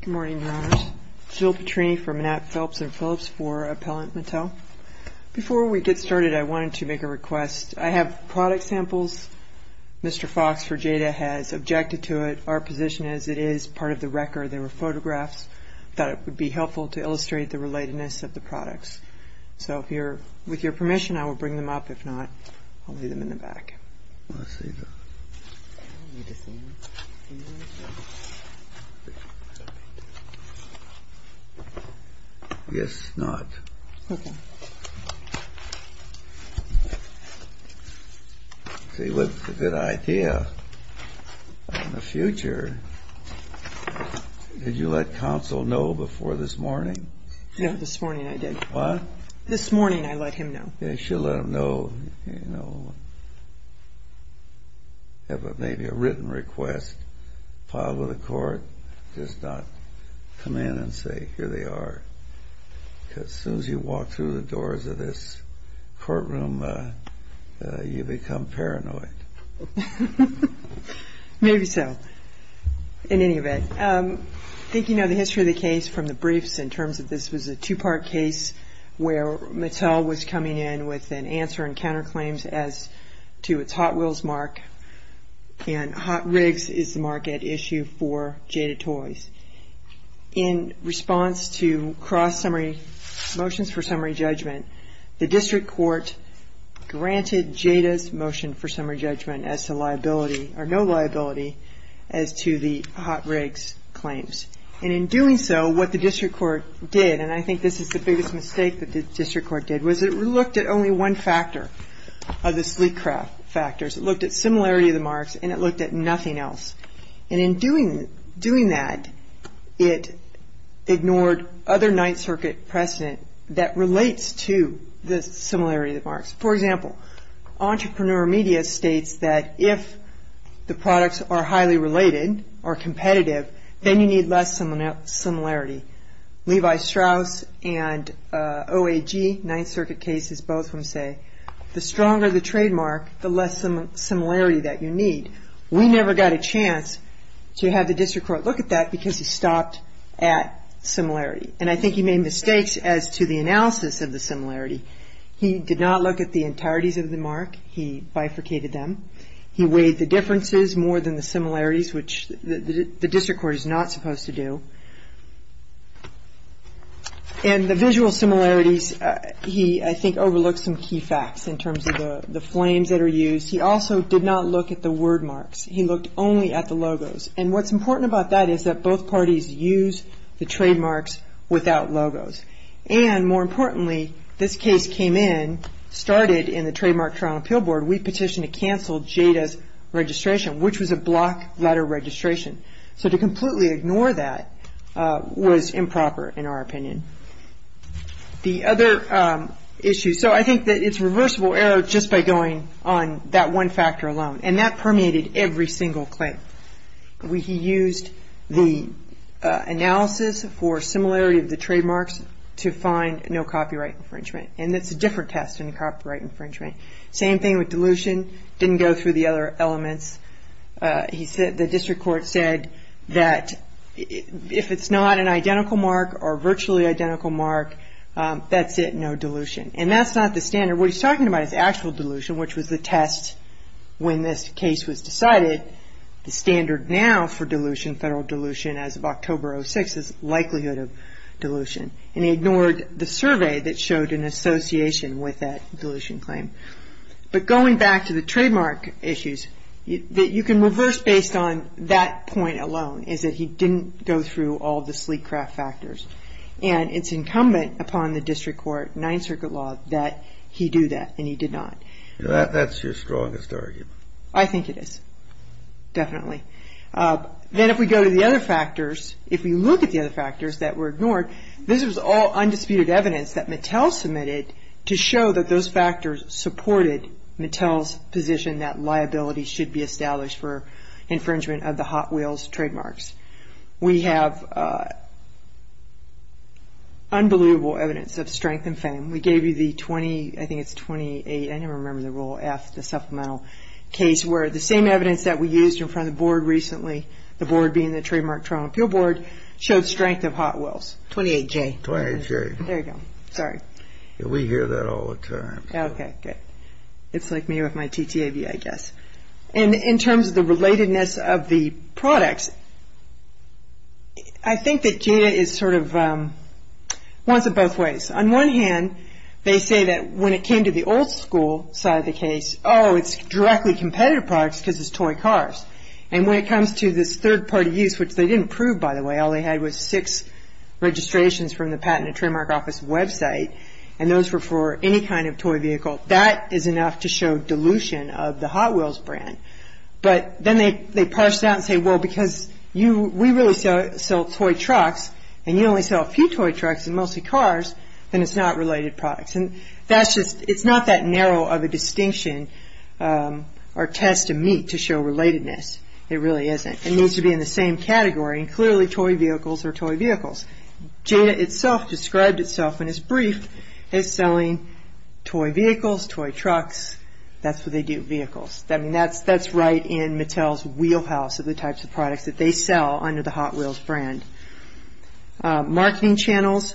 Good morning, Your Honors. This is Bill Petrini from Mattel Philips & Philips for Appellant Mattel. Before we get started, I wanted to make a request. I have product samples. Mr. Fox for Jada has objected to it. Our position is it is part of the record. There were photographs. I thought it would be helpful to illustrate the relatedness of the products. So with your permission, I will bring them up. If not, I'll leave them in the back. Did you let counsel know before this morning? No, this morning I did. What? This morning I let him know. You should let him know. Have maybe a written request filed with the court. Just not come in and say, here they are. Because as soon as you walk through the doors of this courtroom, you become paranoid. Maybe so. In any event, I think you know the history of the case from the briefs in terms of this was a two-part case where Mattel was coming in with an answer and counterclaims as to its Hot Wheels mark. And Hot Rigs is the mark at issue for Jada Toys. In response to motions for summary judgment, the district court granted Jada's motion for summary judgment as to liability or no liability as to the Hot Rigs claims. And in doing so, what the district court did, and I think this is the biggest mistake that the district court did, was it looked at only one factor of the sleek craft factors. It looked at similarity of the marks and it looked at nothing else. And in doing that, it ignored other Ninth Circuit precedent that relates to the similarity of the marks. For example, entrepreneur media states that if the products are highly related or competitive, then you need less similarity. Levi Strauss and OAG, Ninth Circuit cases, both of them say, the stronger the trademark, the less similarity that you need. We never got a chance to have the district court look at that because he stopped at similarity. And I think he made mistakes as to the analysis of the similarity. He did not look at the entireties of the mark. He bifurcated them. He weighed the differences more than the similarities, which the district court is not supposed to do. And the visual similarities, he, I think, overlooked some key facts in terms of the flames that are used. He also did not look at the word marks. He looked only at the logos. And what's important about that is that both parties use the trademarks without logos. And more importantly, this case came in, started in the Trademark Trial and Appeal Board. We petitioned to cancel Jada's registration, which was a block letter registration. So to completely ignore that was improper, in our opinion. The other issue, so I think that it's reversible error just by going on that one factor alone. And that permeated every single claim. He used the analysis for similarity of the trademarks to find no copyright infringement. And that's a different test than copyright infringement. Same thing with dilution. Didn't go through the other elements. The district court said that if it's not an identical mark or virtually identical mark, that's it, no dilution. And that's not the standard. What he's talking about is actual dilution, which was the test when this case was decided. The standard now for dilution, federal dilution, as of October 06 is likelihood of dilution. And he ignored the survey that showed an association with that dilution claim. But going back to the trademark issues, you can reverse based on that point alone, is that he didn't go through all the sleek craft factors. And it's incumbent upon the district court, Ninth Circuit law, that he do that. And he did not. That's your strongest argument. I think it is. Definitely. Then if we go to the other factors, if we look at the other factors that were ignored, this was all undisputed evidence that Mattel submitted to show that those factors supported Mattel's position that liability should be established for infringement of the Hot Wheels trademarks. We have unbelievable evidence of strength and fame. We gave you the 20, I think it's 28, I don't remember the rule, F, the supplemental case, where the same evidence that we used in front of the board recently, the board being the Trademark Toronto Appeal Board, showed strength of Hot Wheels. 28J. 28J. There you go. Sorry. We hear that all the time. Okay, good. It's like me with my TTAV, I guess. And in terms of the relatedness of the products, I think that Jada is sort of wants it both ways. On one hand, they say that when it came to the old school side of the case, oh, it's directly competitive products because it's toy cars. And when it comes to this third-party use, which they didn't prove, by the way, all they had was six registrations from the Patent and Trademark Office website, and those were for any kind of toy vehicle. That is enough to show dilution of the Hot Wheels brand. But then they parse it out and say, well, because we really sell toy trucks, and you only sell a few toy trucks and mostly cars, then it's not related products. It's not that narrow of a distinction or test to meet to show relatedness. It really isn't. It needs to be in the same category, and clearly toy vehicles are toy vehicles. Jada itself described itself in its brief as selling toy vehicles, toy trucks. That's what they do, vehicles. That's right in Mattel's wheelhouse of the types of products that they sell under the Hot Wheels brand. Marketing channels,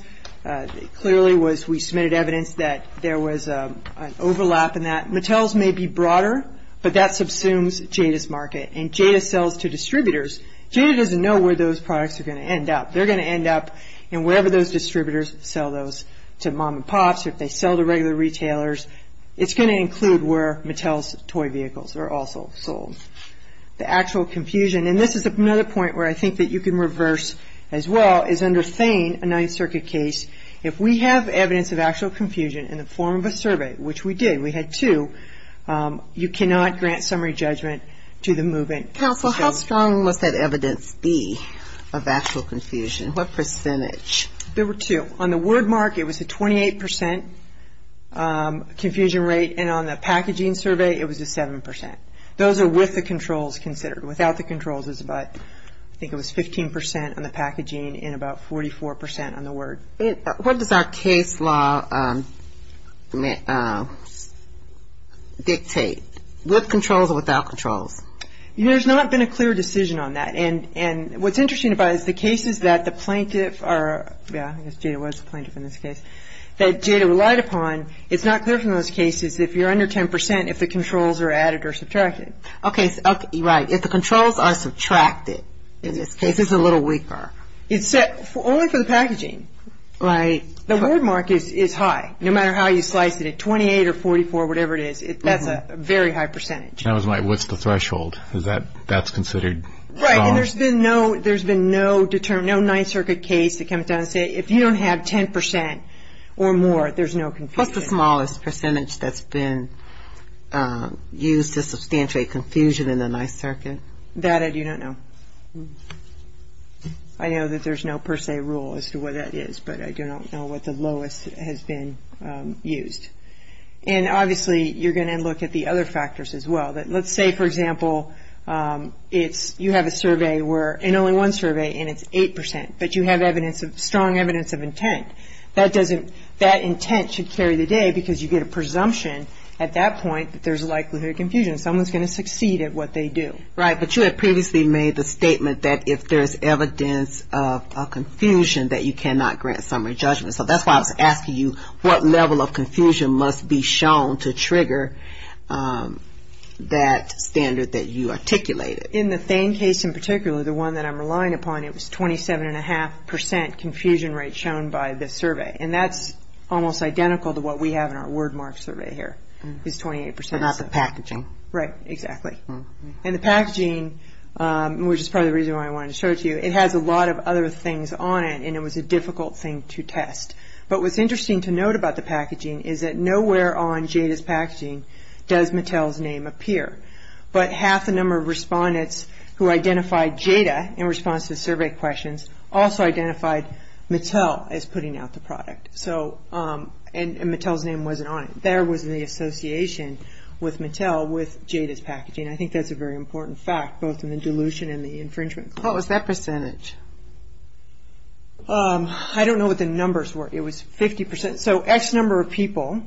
clearly we submitted evidence that there was an overlap in that. Mattel's may be broader, but that subsumes Jada's market, and Jada sells to distributors. Jada doesn't know where those products are going to end up. They're going to end up in wherever those distributors sell those to mom and pops or if they sell to regular retailers. It's going to include where Mattel's toy vehicles are also sold. The actual confusion, and this is another point where I think that you can reverse as well, is under Thane, a Ninth Circuit case, if we have evidence of actual confusion in the form of a survey, which we did, we had two, you cannot grant summary judgment to the movement. Counsel, how strong must that evidence be of actual confusion? What percentage? There were two. On the word mark, it was a 28% confusion rate, and on the packaging survey, it was a 7%. Those are with the controls considered. Without the controls is about, I think it was 15% on the packaging and about 44% on the word. What does our case law dictate? With controls or without controls? There's not been a clear decision on that, and what's interesting about it is the cases that the plaintiff, yeah, I guess Jada was the plaintiff in this case, that Jada relied upon, it's not clear from those cases. If you're under 10%, if the controls are added or subtracted. Okay, right. If the controls are subtracted in this case, it's a little weaker. Only for the packaging. Right. The word mark is high. No matter how you slice it, a 28 or 44, whatever it is, that's a very high percentage. I was like, what's the threshold? That's considered strong? Right, and there's been no Ninth Circuit case that comes down and says, if you don't have 10% or more, there's no confusion. What's the smallest percentage that's been used to substantiate confusion in the Ninth Circuit? That I do not know. I know that there's no per se rule as to what that is, but I do not know what the lowest has been used. And, obviously, you're going to look at the other factors as well. Let's say, for example, you have a survey, and only one survey, and it's 8%, but you have strong evidence of intent. That intent should carry the day because you get a presumption at that point that there's a likelihood of confusion. Someone's going to succeed at what they do. Right, but you had previously made the statement that if there's evidence of confusion, that you cannot grant summary judgment. So that's why I was asking you what level of confusion must be shown to trigger that standard that you articulated. In the Thane case in particular, the one that I'm relying upon, it was 27.5% confusion rate shown by the survey. And that's almost identical to what we have in our Wordmark survey here, is 28%. But not the packaging. Right, exactly. And the packaging, which is probably the reason why I wanted to show it to you, it has a lot of other things on it, and it was a difficult thing to test. But what's interesting to note about the packaging is that nowhere on Jada's packaging does Mattel's name appear. But half the number of respondents who identified Jada in response to the survey questions also identified Mattel as putting out the product. And Mattel's name wasn't on it. There was the association with Mattel with Jada's packaging. I think that's a very important fact, both in the dilution and the infringement. What was that percentage? I don't know what the numbers were. It was 50%. So X number of people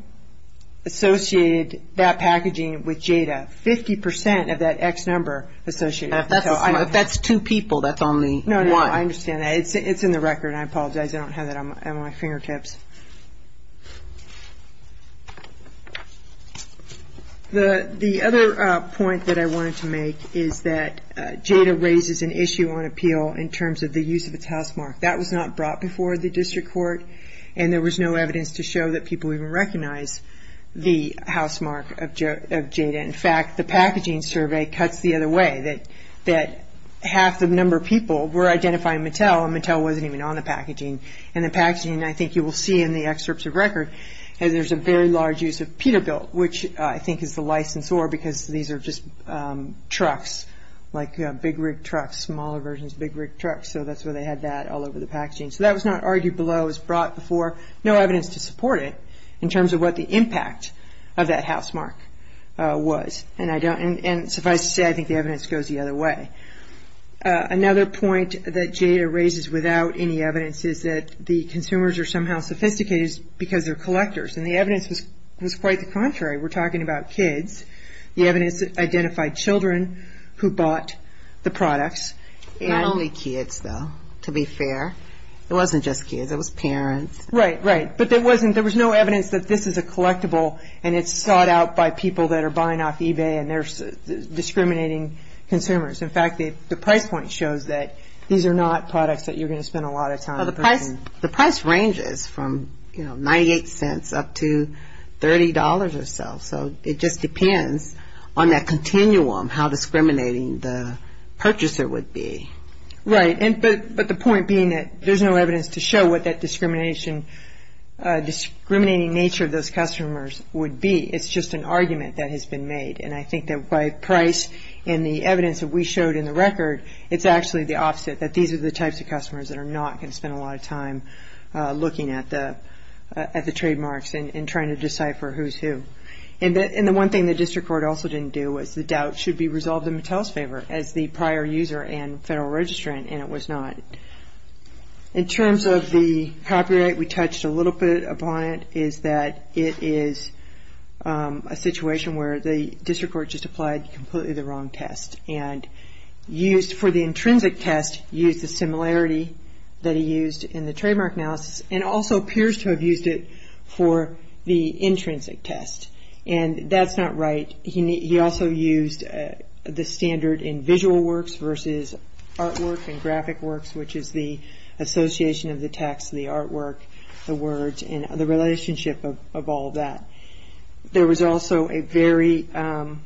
associated that packaging with Jada, 50% of that X number associated. If that's two people, that's only one. No, no, I understand. It's in the record, and I apologize. I don't have that on my fingertips. The other point that I wanted to make is that Jada raises an issue on appeal in terms of the use of its housemark. That was not brought before the district court, and there was no evidence to show that people even recognized the housemark of Jada. In fact, the packaging survey cuts the other way, that half the number of people were identifying Mattel, and Mattel wasn't even on the packaging. And the packaging, I think you will see in the excerpts of record, there's a very large use of Peterbilt, which I think is the licensor, because these are just trucks, like big rig trucks, smaller versions of big rig trucks. So that's why they had that all over the packaging. So that was not argued below. It was brought before. No evidence to support it in terms of what the impact of that housemark was. And suffice to say, I think the evidence goes the other way. Another point that Jada raises without any evidence is that the consumers are somehow sophisticated because they're collectors, and the evidence was quite the contrary. We're talking about kids. The evidence identified children who bought the products. Not only kids, though, to be fair. It wasn't just kids. It was parents. Right, right. But there was no evidence that this is a collectible, and it's sought out by people that are buying off eBay and they're discriminating consumers. In fact, the price point shows that these are not products that you're going to spend a lot of time purchasing. The price ranges from, you know, 98 cents up to $30 or so. It just depends on that continuum how discriminating the purchaser would be. Right. But the point being that there's no evidence to show what that discrimination, discriminating nature of those customers would be. It's just an argument that has been made. And I think that by price and the evidence that we showed in the record, it's actually the opposite, that these are the types of customers that are not going to spend a lot of time looking at the trademarks and trying to decipher who's who. And the one thing the district court also didn't do was the doubt should be resolved in Mattel's favor, as the prior user and federal registrant, and it was not. In terms of the copyright, we touched a little bit upon it, is that it is a situation where the district court just applied completely the wrong test. And used for the intrinsic test, used the similarity that he used in the trademark analysis, and also appears to have used it for the intrinsic test. And that's not right. He also used the standard in visual works versus artwork and graphic works, which is the association of the text, the artwork, the words, and the relationship of all that. There was also an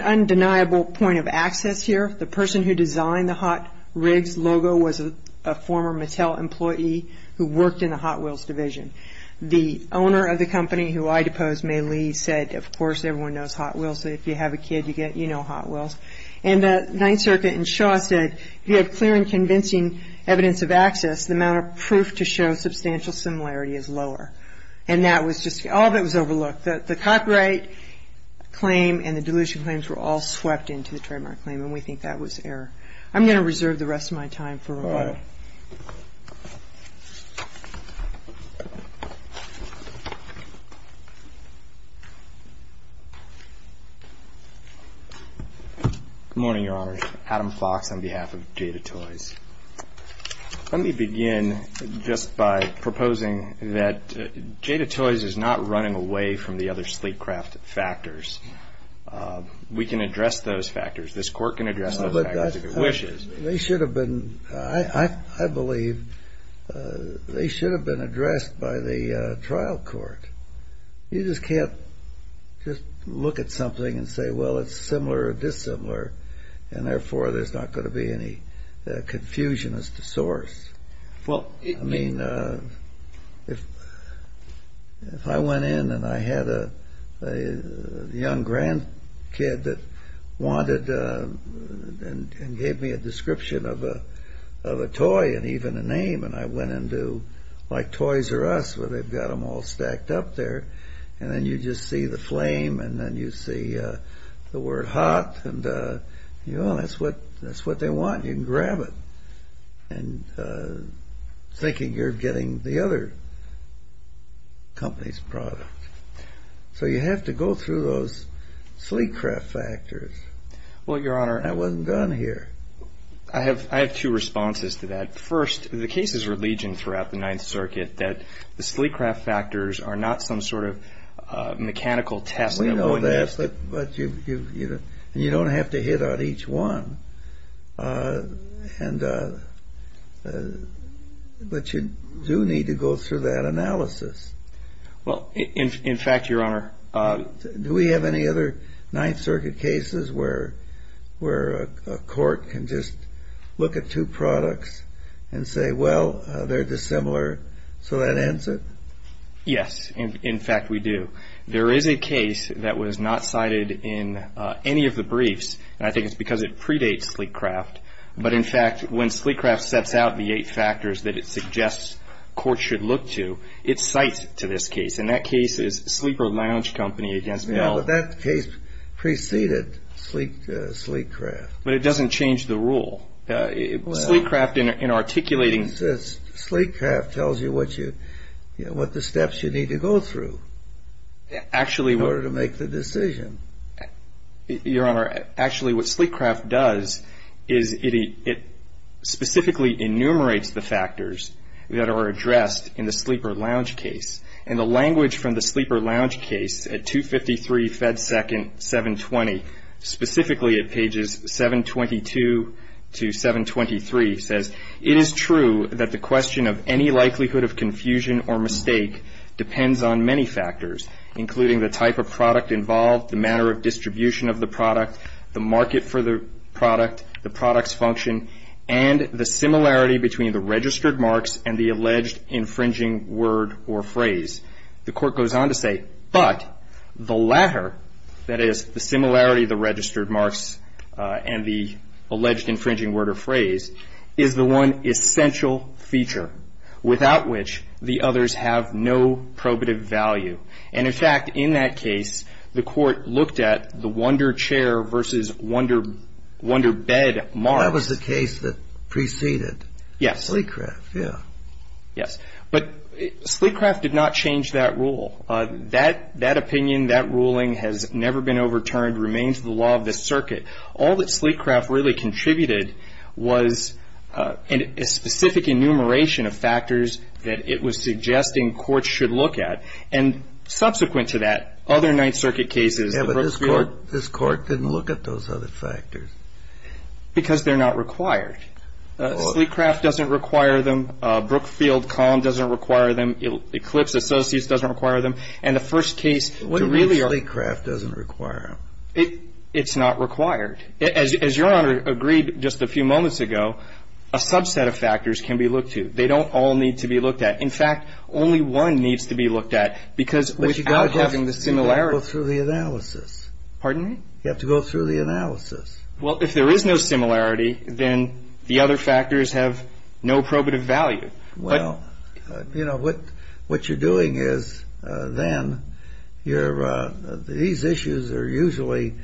undeniable point of access here. The person who designed the Hot Rigs logo was a former Mattel employee who worked in the Hot Wheels division. The owner of the company who I deposed, May Lee, said, of course, everyone knows Hot Wheels. If you have a kid, you know Hot Wheels. And the Ninth Circuit in Shaw said, if you have clear and convincing evidence of access, the amount of proof to show substantial similarity is lower. And that was just all that was overlooked. The copyright claim and the dilution claims were all swept into the trademark claim, and we think that was error. I'm going to reserve the rest of my time for remarks. All right. Good morning, Your Honors. Adam Fox on behalf of Data Toys. Let me begin just by proposing that Data Toys is not running away from the other sleep craft factors. We can address those factors. This Court can address those factors if it wishes. They should have been, I believe, they should have been addressed by the trial court. You just can't just look at something and say, well, it's similar or dissimilar, and therefore there's not going to be any confusion as to source. I mean, if I went in and I had a young grandkid that wanted and gave me a description of a toy and even a name, and I went into, like Toys R Us, where they've got them all stacked up there, and then you just see the flame and then you see the word hot, and, you know, that's what they want. You can grab it thinking you're getting the other company's product. So you have to go through those sleep craft factors. Well, Your Honor. I wasn't done here. I have two responses to that. First, the cases are legion throughout the Ninth Circuit that the sleep craft factors are not some sort of mechanical test. We know that, but you don't have to hit on each one. But you do need to go through that analysis. Well, in fact, Your Honor. Do we have any other Ninth Circuit cases where a court can just look at two products and say, well, they're dissimilar, so that ends it? Yes. In fact, we do. There is a case that was not cited in any of the briefs, and I think it's because it predates sleep craft. But, in fact, when sleep craft sets out the eight factors that it suggests courts should look to, it cites to this case. And that case is Sleeper Lounge Company against Bell. No, but that case preceded sleep craft. But it doesn't change the rule. Sleep craft in articulating. Sleep craft tells you what the steps you need to go through in order to make the decision. Your Honor, actually what sleep craft does is it specifically enumerates the factors that are addressed in the sleeper lounge case. And the language from the sleeper lounge case at 253 Fed Second 720, specifically at pages 722 to 723, says it is true that the question of any likelihood of confusion or mistake depends on many factors, including the type of product involved, the manner of distribution of the product, the market for the product, the product's function, and the similarity between the registered marks and the alleged infringing word or phrase. The court goes on to say, but the latter, that is, the similarity of the registered marks and the alleged infringing word or phrase, is the one essential feature, without which the others have no probative value. And in fact, in that case, the court looked at the wonder chair versus wonder bed marks. That was the case that preceded sleep craft. Yes. But sleep craft did not change that rule. That opinion, that ruling has never been overturned, remains the law of the circuit. All that sleep craft really contributed was a specific enumeration of factors that it was suggesting courts should look at. And subsequent to that, other Ninth Circuit cases. Yes, but this court didn't look at those other factors. Because they're not required. Sleep craft doesn't require them. Brookfield Com doesn't require them. Eclipse Associates doesn't require them. And the first case to really argue. What do you mean sleep craft doesn't require them? It's not required. As Your Honor agreed just a few moments ago, a subset of factors can be looked to. They don't all need to be looked at. In fact, only one needs to be looked at. Because without having the similarity. But you've got to go through the analysis. Pardon me? You have to go through the analysis. Well, if there is no similarity, then the other factors have no probative value. Well, you know, what you're doing is then these issues are usually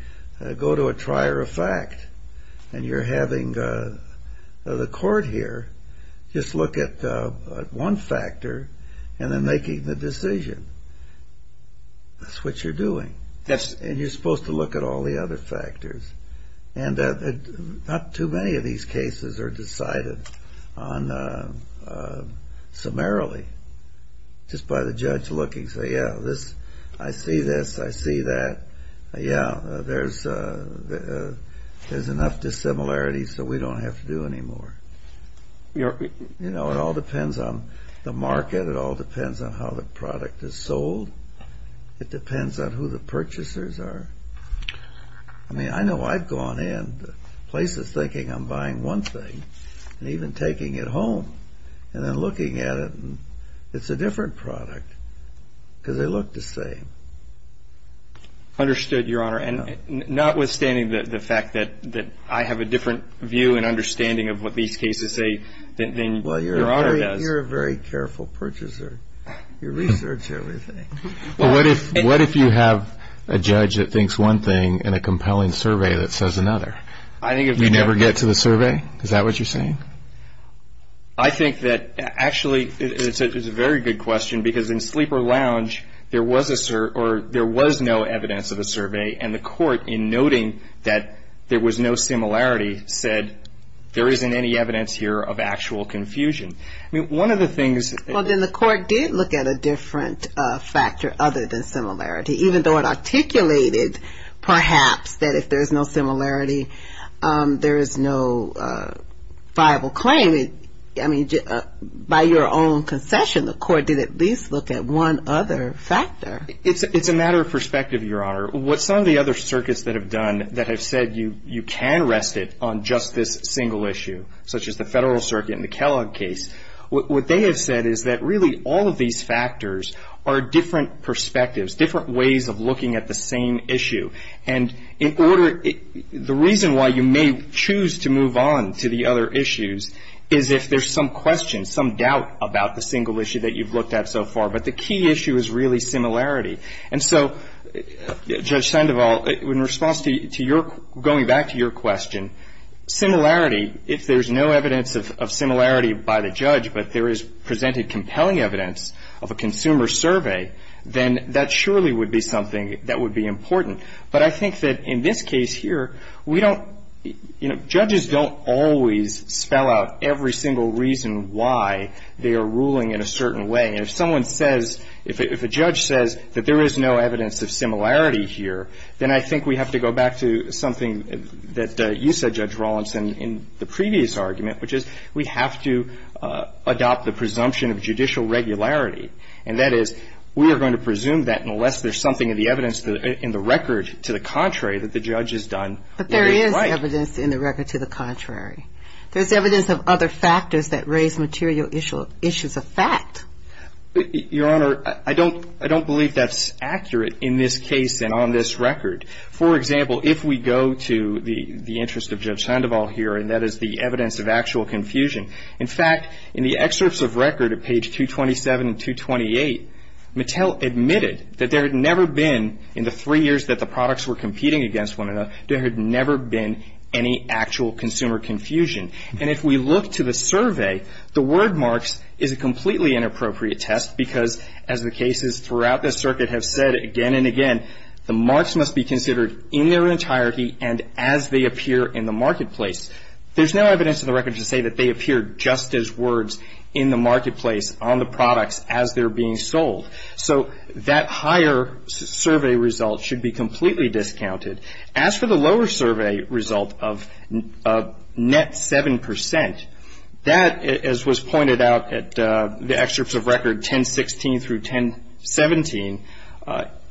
go to a trier of fact. And you're having the court here just look at one factor. And then making the decision. That's what you're doing. Yes. And you're supposed to look at all the other factors. And not too many of these cases are decided on summarily. Just by the judge looking. Say, yeah, I see this, I see that. Yeah, there's enough dissimilarity so we don't have to do any more. You know, it all depends on the market. It all depends on how the product is sold. It depends on who the purchasers are. I mean, I know I've gone in places thinking I'm buying one thing. And even taking it home. And then looking at it and it's a different product. Because they look the same. Understood, Your Honor. And notwithstanding the fact that I have a different view and understanding of what these cases say than Your Honor does. Well, you're a very careful purchaser. You research everything. What if you have a judge that thinks one thing and a compelling survey that says another? You never get to the survey? Is that what you're saying? I think that actually it's a very good question. Because in Sleeper Lounge there was no evidence of a survey. And the court, in noting that there was no similarity, said, there isn't any evidence here of actual confusion. I mean, one of the things. Well, then the court did look at a different factor other than similarity. Even though it articulated, perhaps, that if there's no similarity there is no viable claim. By your own concession, the court did at least look at one other factor. It's a matter of perspective, Your Honor. What some of the other circuits that have done that have said you can rest it on just this single issue, such as the Federal Circuit and the Kellogg case, what they have said is that really all of these factors are different perspectives, different ways of looking at the same issue. And the reason why you may choose to move on to the other issues is if there's some question, some doubt about the single issue that you've looked at so far. But the key issue is really similarity. And so, Judge Sandoval, in response to your question, going back to your question, similarity, if there's no evidence of similarity by the judge, but there is presented compelling evidence of a consumer survey, then that surely would be something that would be important. But I think that in this case here, we don't, you know, judges don't always spell out every single reason why they are ruling in a certain way. And if someone says, if a judge says that there is no evidence of similarity here, then I think we have to go back to something that you said, Judge Rawlinson, in the previous argument, which is we have to adopt the presumption of judicial regularity. And that is, we are going to presume that unless there's something in the evidence, in the record, to the contrary, that the judge has done what they'd like. But there is evidence in the record to the contrary. There's evidence of other factors that raise material issues of fact. Your Honor, I don't believe that's accurate in this case and on this record. For example, if we go to the interest of Judge Sandoval here, and that is the evidence of actual confusion, in fact, in the excerpts of record at page 227 and 228, Mattel admitted that there had never been, in the three years that the products were competing against one another, there had never been any actual consumer confusion. And if we look to the survey, the word marks is a completely inappropriate test, because as the cases throughout this circuit have said again and again, the marks must be considered in their entirety and as they appear in the marketplace. There's no evidence in the record to say that they appear just as words in the marketplace on the products as they're being sold. So that higher survey result should be completely discounted. As for the lower survey result of net 7 percent, that as was pointed out at the excerpts of record 1016 through 1017,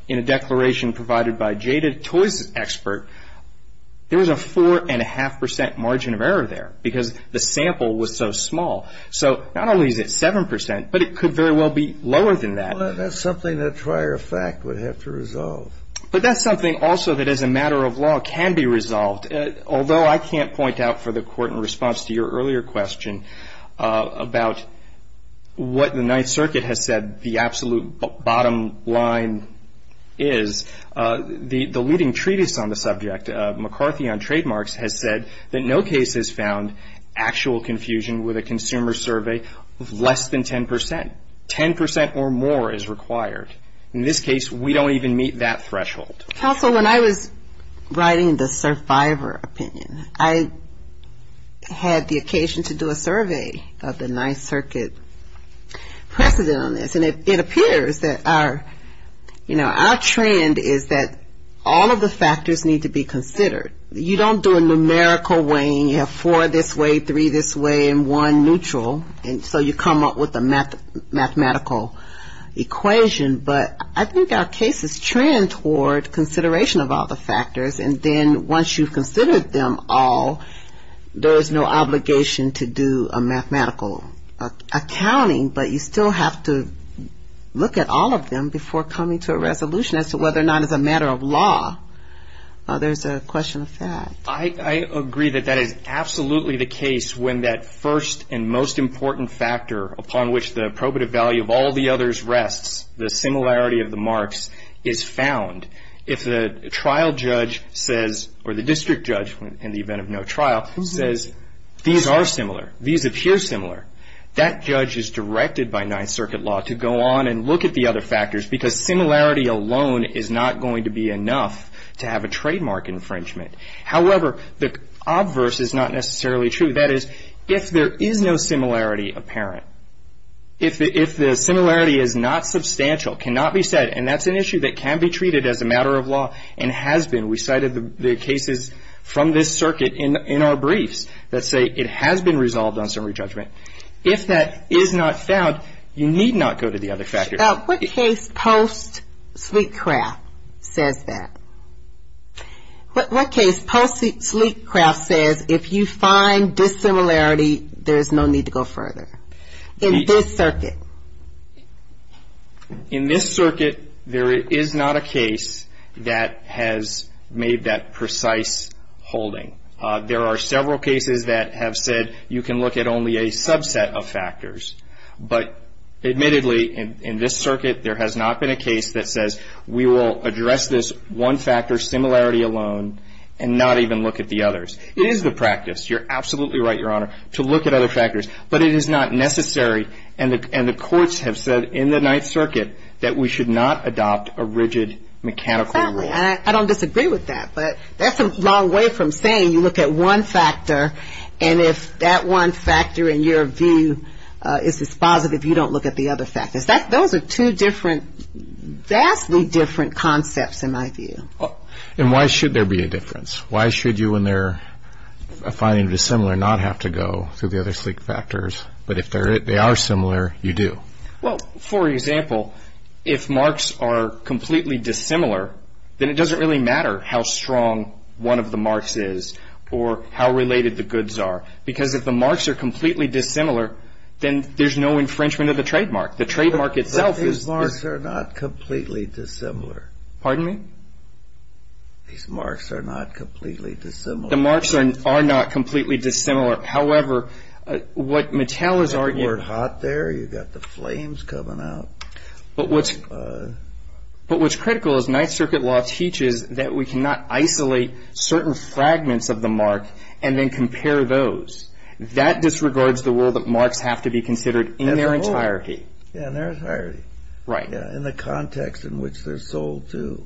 in a declaration provided by Jada Toys' expert, there was a 4.5 percent margin of error there because the sample was so small. So not only is it 7 percent, but it could very well be lower than that. Well, that's something that prior fact would have to resolve. But that's something also that as a matter of law can be resolved, although I can't point out for the court in response to your earlier question about what the Ninth Circuit has said the absolute bottom line is. The leading treatise on the subject, McCarthy on Trademarks, has said that no case has found actual confusion with a consumer survey of less than 10 percent. Ten percent or more is required. In this case, we don't even meet that threshold. Counsel, when I was writing the survivor opinion, I had the occasion to do a survey of the Ninth Circuit precedent on this. And it appears that our, you know, our trend is that all of the factors need to be considered. You don't do a numerical weighing, you have four this way, three this way, and one neutral, and so you come up with a mathematical equation. But I think our case is trend toward consideration of all the factors, and then once you've considered them all, there is no obligation to do a mathematical accounting. But you still have to look at all of them before coming to a resolution as to whether or not as a matter of law there's a question of fact. I agree that that is absolutely the case when that first and most important factor upon which the probative value of all the others rests, the similarity of the marks, is found. If the trial judge says, or the district judge in the event of no trial, says these are similar, these appear similar, that judge is directed by Ninth Circuit law to go on and look at the other factors because similarity alone is not going to be enough to have a trademark infringement. However, the obverse is not necessarily true. What I would say to that is if there is no similarity apparent, if the similarity is not substantial, cannot be said, and that's an issue that can be treated as a matter of law and has been. We cited the cases from this circuit in our briefs that say it has been resolved on summary judgment. If that is not found, you need not go to the other factors. Now, what case post-Sleekcraft says that? What case post-Sleekcraft says if you find dissimilarity, there is no need to go further? In this circuit. In this circuit, there is not a case that has made that precise holding. There are several cases that have said you can look at only a subset of factors. But admittedly, in this circuit, there has not been a case that says we will address this one factor similarity alone and not even look at the others. It is the practice. You're absolutely right, Your Honor, to look at other factors. But it is not necessary. And the courts have said in the Ninth Circuit that we should not adopt a rigid mechanical rule. I don't disagree with that. But that's a long way from saying you look at one factor, and if that one factor in your view is dispositive, you don't look at the other factors. Those are two different, vastly different concepts, in my view. And why should there be a difference? Why should you, when you're finding dissimilar, not have to go through the other Sleek factors? But if they are similar, you do. Well, for example, if marks are completely dissimilar, then it doesn't really matter how strong one of the marks is or how related the goods are. Because if the marks are completely dissimilar, then there's no infringement of the trademark. The trademark itself is... But these marks are not completely dissimilar. Pardon me? These marks are not completely dissimilar. The marks are not completely dissimilar. However, what Mattel is arguing... You've got the word hot there. You've got the flames coming out. But what's critical is Ninth Circuit law teaches that we cannot isolate certain fragments of the mark and then compare those. That disregards the role that marks have to be considered in their entirety. Yeah, in their entirety. Right. Yeah, in the context in which they're sold to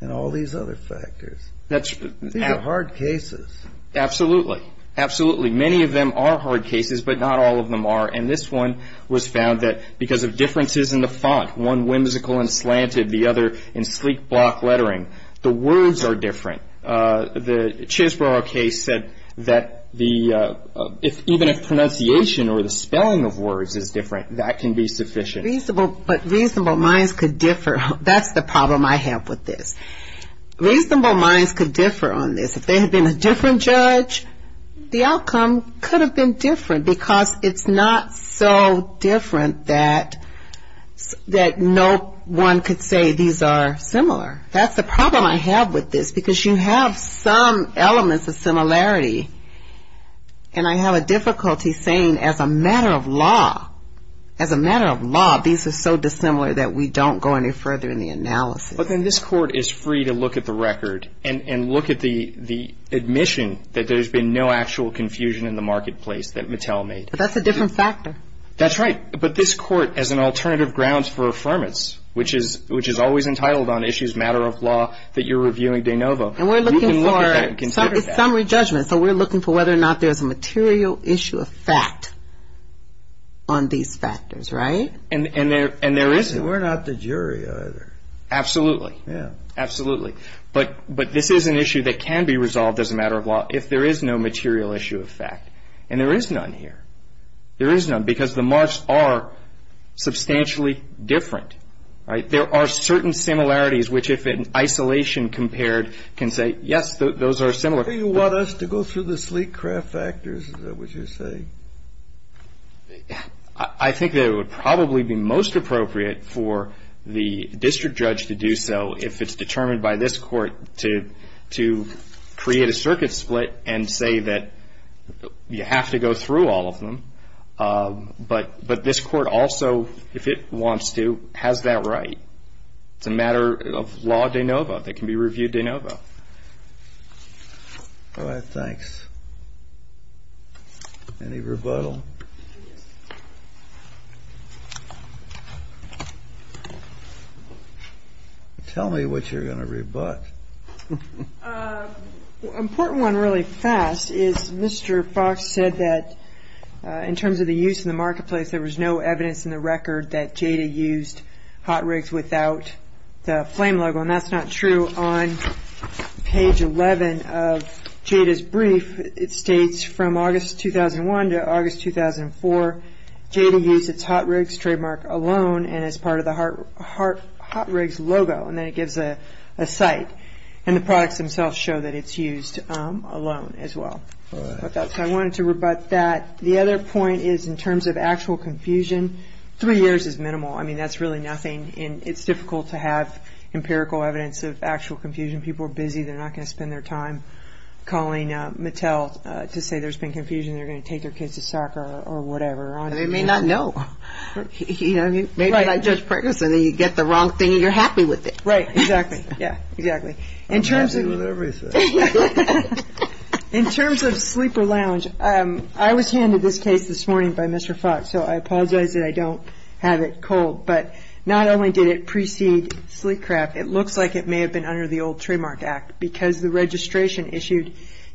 and all these other factors. These are hard cases. Absolutely. Absolutely. Many of them are hard cases, but not all of them are. And this one was found that because of differences in the font, one whimsical and slanted, the other in sleek block lettering, the words are different. The Chisborough case said that even if pronunciation or the spelling of words is different, that can be sufficient. But reasonable minds could differ. That's the problem I have with this. Reasonable minds could differ on this. If they had been a different judge, the outcome could have been different because it's not so different that no one could say these are similar. That's the problem I have with this because you have some elements of similarity, and I have a difficulty saying as a matter of law, as a matter of law, these are so dissimilar that we don't go any further in the analysis. But then this court is free to look at the record and look at the admission that there's been no actual confusion in the marketplace that Mattel made. But that's a different factor. That's right. But this court, as an alternative grounds for affirmance, which is always entitled on issues matter of law that you're reviewing de novo, you can look at that and consider that. And we're looking for summary judgment. So we're looking for whether or not there's a material issue of fact on these factors, right? And there is. We're not the jury either. Absolutely. Yeah. Absolutely. But this is an issue that can be resolved as a matter of law if there is no material issue of fact. And there is none here. There is none because the marks are substantially different, right? There are certain similarities which, if in isolation compared, can say, yes, those are similar. Do you want us to go through the sleek craft factors, is that what you're saying? I think that it would probably be most appropriate for the district judge to do so if it's But this court also, if it wants to, has that right. It's a matter of law de novo. It can be reviewed de novo. All right. Thanks. Any rebuttal? Tell me what you're going to rebut. Important one really fast is Mr. Fox said that in terms of the use in the marketplace, there was no evidence in the record that Jada used hot rigs without the flame logo. And that's not true. On page 11 of Jada's brief, it states from August 2001 to August 2004, Jada used its hot rigs trademark alone and as part of the hot rigs logo. And then it gives a site. And the products themselves show that it's used alone as well. So I wanted to rebut that. The other point is in terms of actual confusion, three years is minimal. I mean, that's really nothing. And it's difficult to have empirical evidence of actual confusion. People are busy. They're not going to spend their time calling Mattel to say there's been confusion. They're going to take their kids to soccer or whatever. They may not know. Maybe they're not just pregnant so they get the wrong thing and you're happy with it. Right, exactly. Yeah, exactly. I'm happy with everything. In terms of sleeper lounge, I was handed this case this morning by Mr. Fox, so I apologize that I don't have it cold. But not only did it precede sleep craft, it looks like it may have been under the old trademark act because the registration issued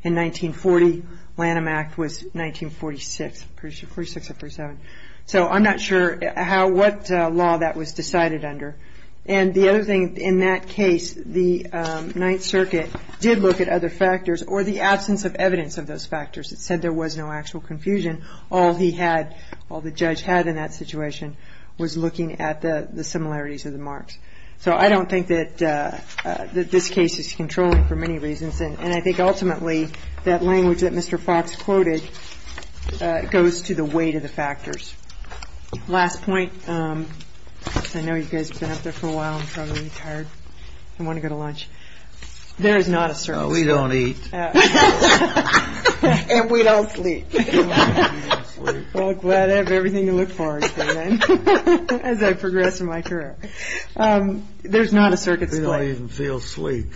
in 1940, Lanham Act was 1946 or 47. So I'm not sure what law that was decided under. And the other thing in that case, the Ninth Circuit did look at other factors or the absence of evidence of those factors. It said there was no actual confusion. All he had, all the judge had in that situation was looking at the similarities of the marks. So I don't think that this case is controlling for many reasons. And I think ultimately that language that Mr. Fox quoted goes to the weight of the factors. Last point. I know you guys have been up there for a while and probably tired and want to go to lunch. There is not a circuit. No, we don't eat. And we don't sleep. Well, glad I have everything to look forward to then as I progress in my career. There's not a circuit. I don't even feel sleep.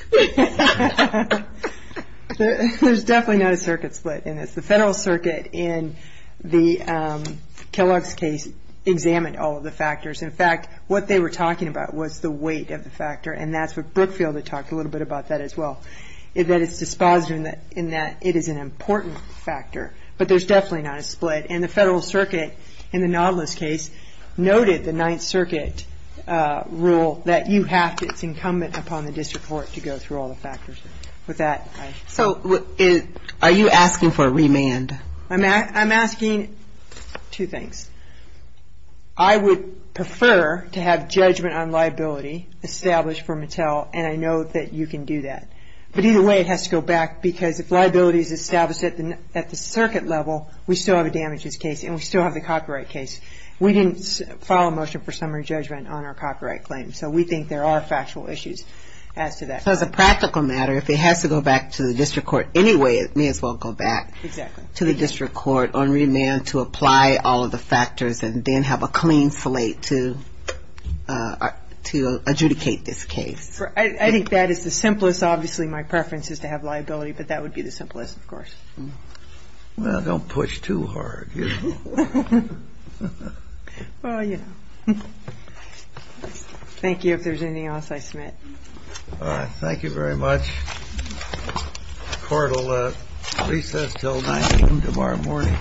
There's definitely not a circuit split in this. The Federal Circuit in the Kellogg's case examined all of the factors. In fact, what they were talking about was the weight of the factor, and that's what Brookfield had talked a little bit about that as well, that it's dispositive in that it is an important factor. But there's definitely not a split. And the Federal Circuit in the Nautilus case noted the Ninth Circuit rule that it's incumbent upon the district court to go through all the factors. Are you asking for a remand? I'm asking two things. I would prefer to have judgment on liability established for Mattel, and I know that you can do that. But either way it has to go back because if liability is established at the circuit level, we still have a damages case and we still have the copyright case. We didn't file a motion for summary judgment on our copyright claim, so we think there are factual issues as to that. So as a practical matter, if it has to go back to the district court anyway, it may as well go back to the district court on remand to apply all of the factors and then have a clean slate to adjudicate this case. I think that is the simplest. Obviously my preference is to have liability, but that would be the simplest, of course. Well, don't push too hard. Well, you know. Thank you. If there's anything else, I submit. Thank you very much. Court will recess until 9 a.m. tomorrow morning.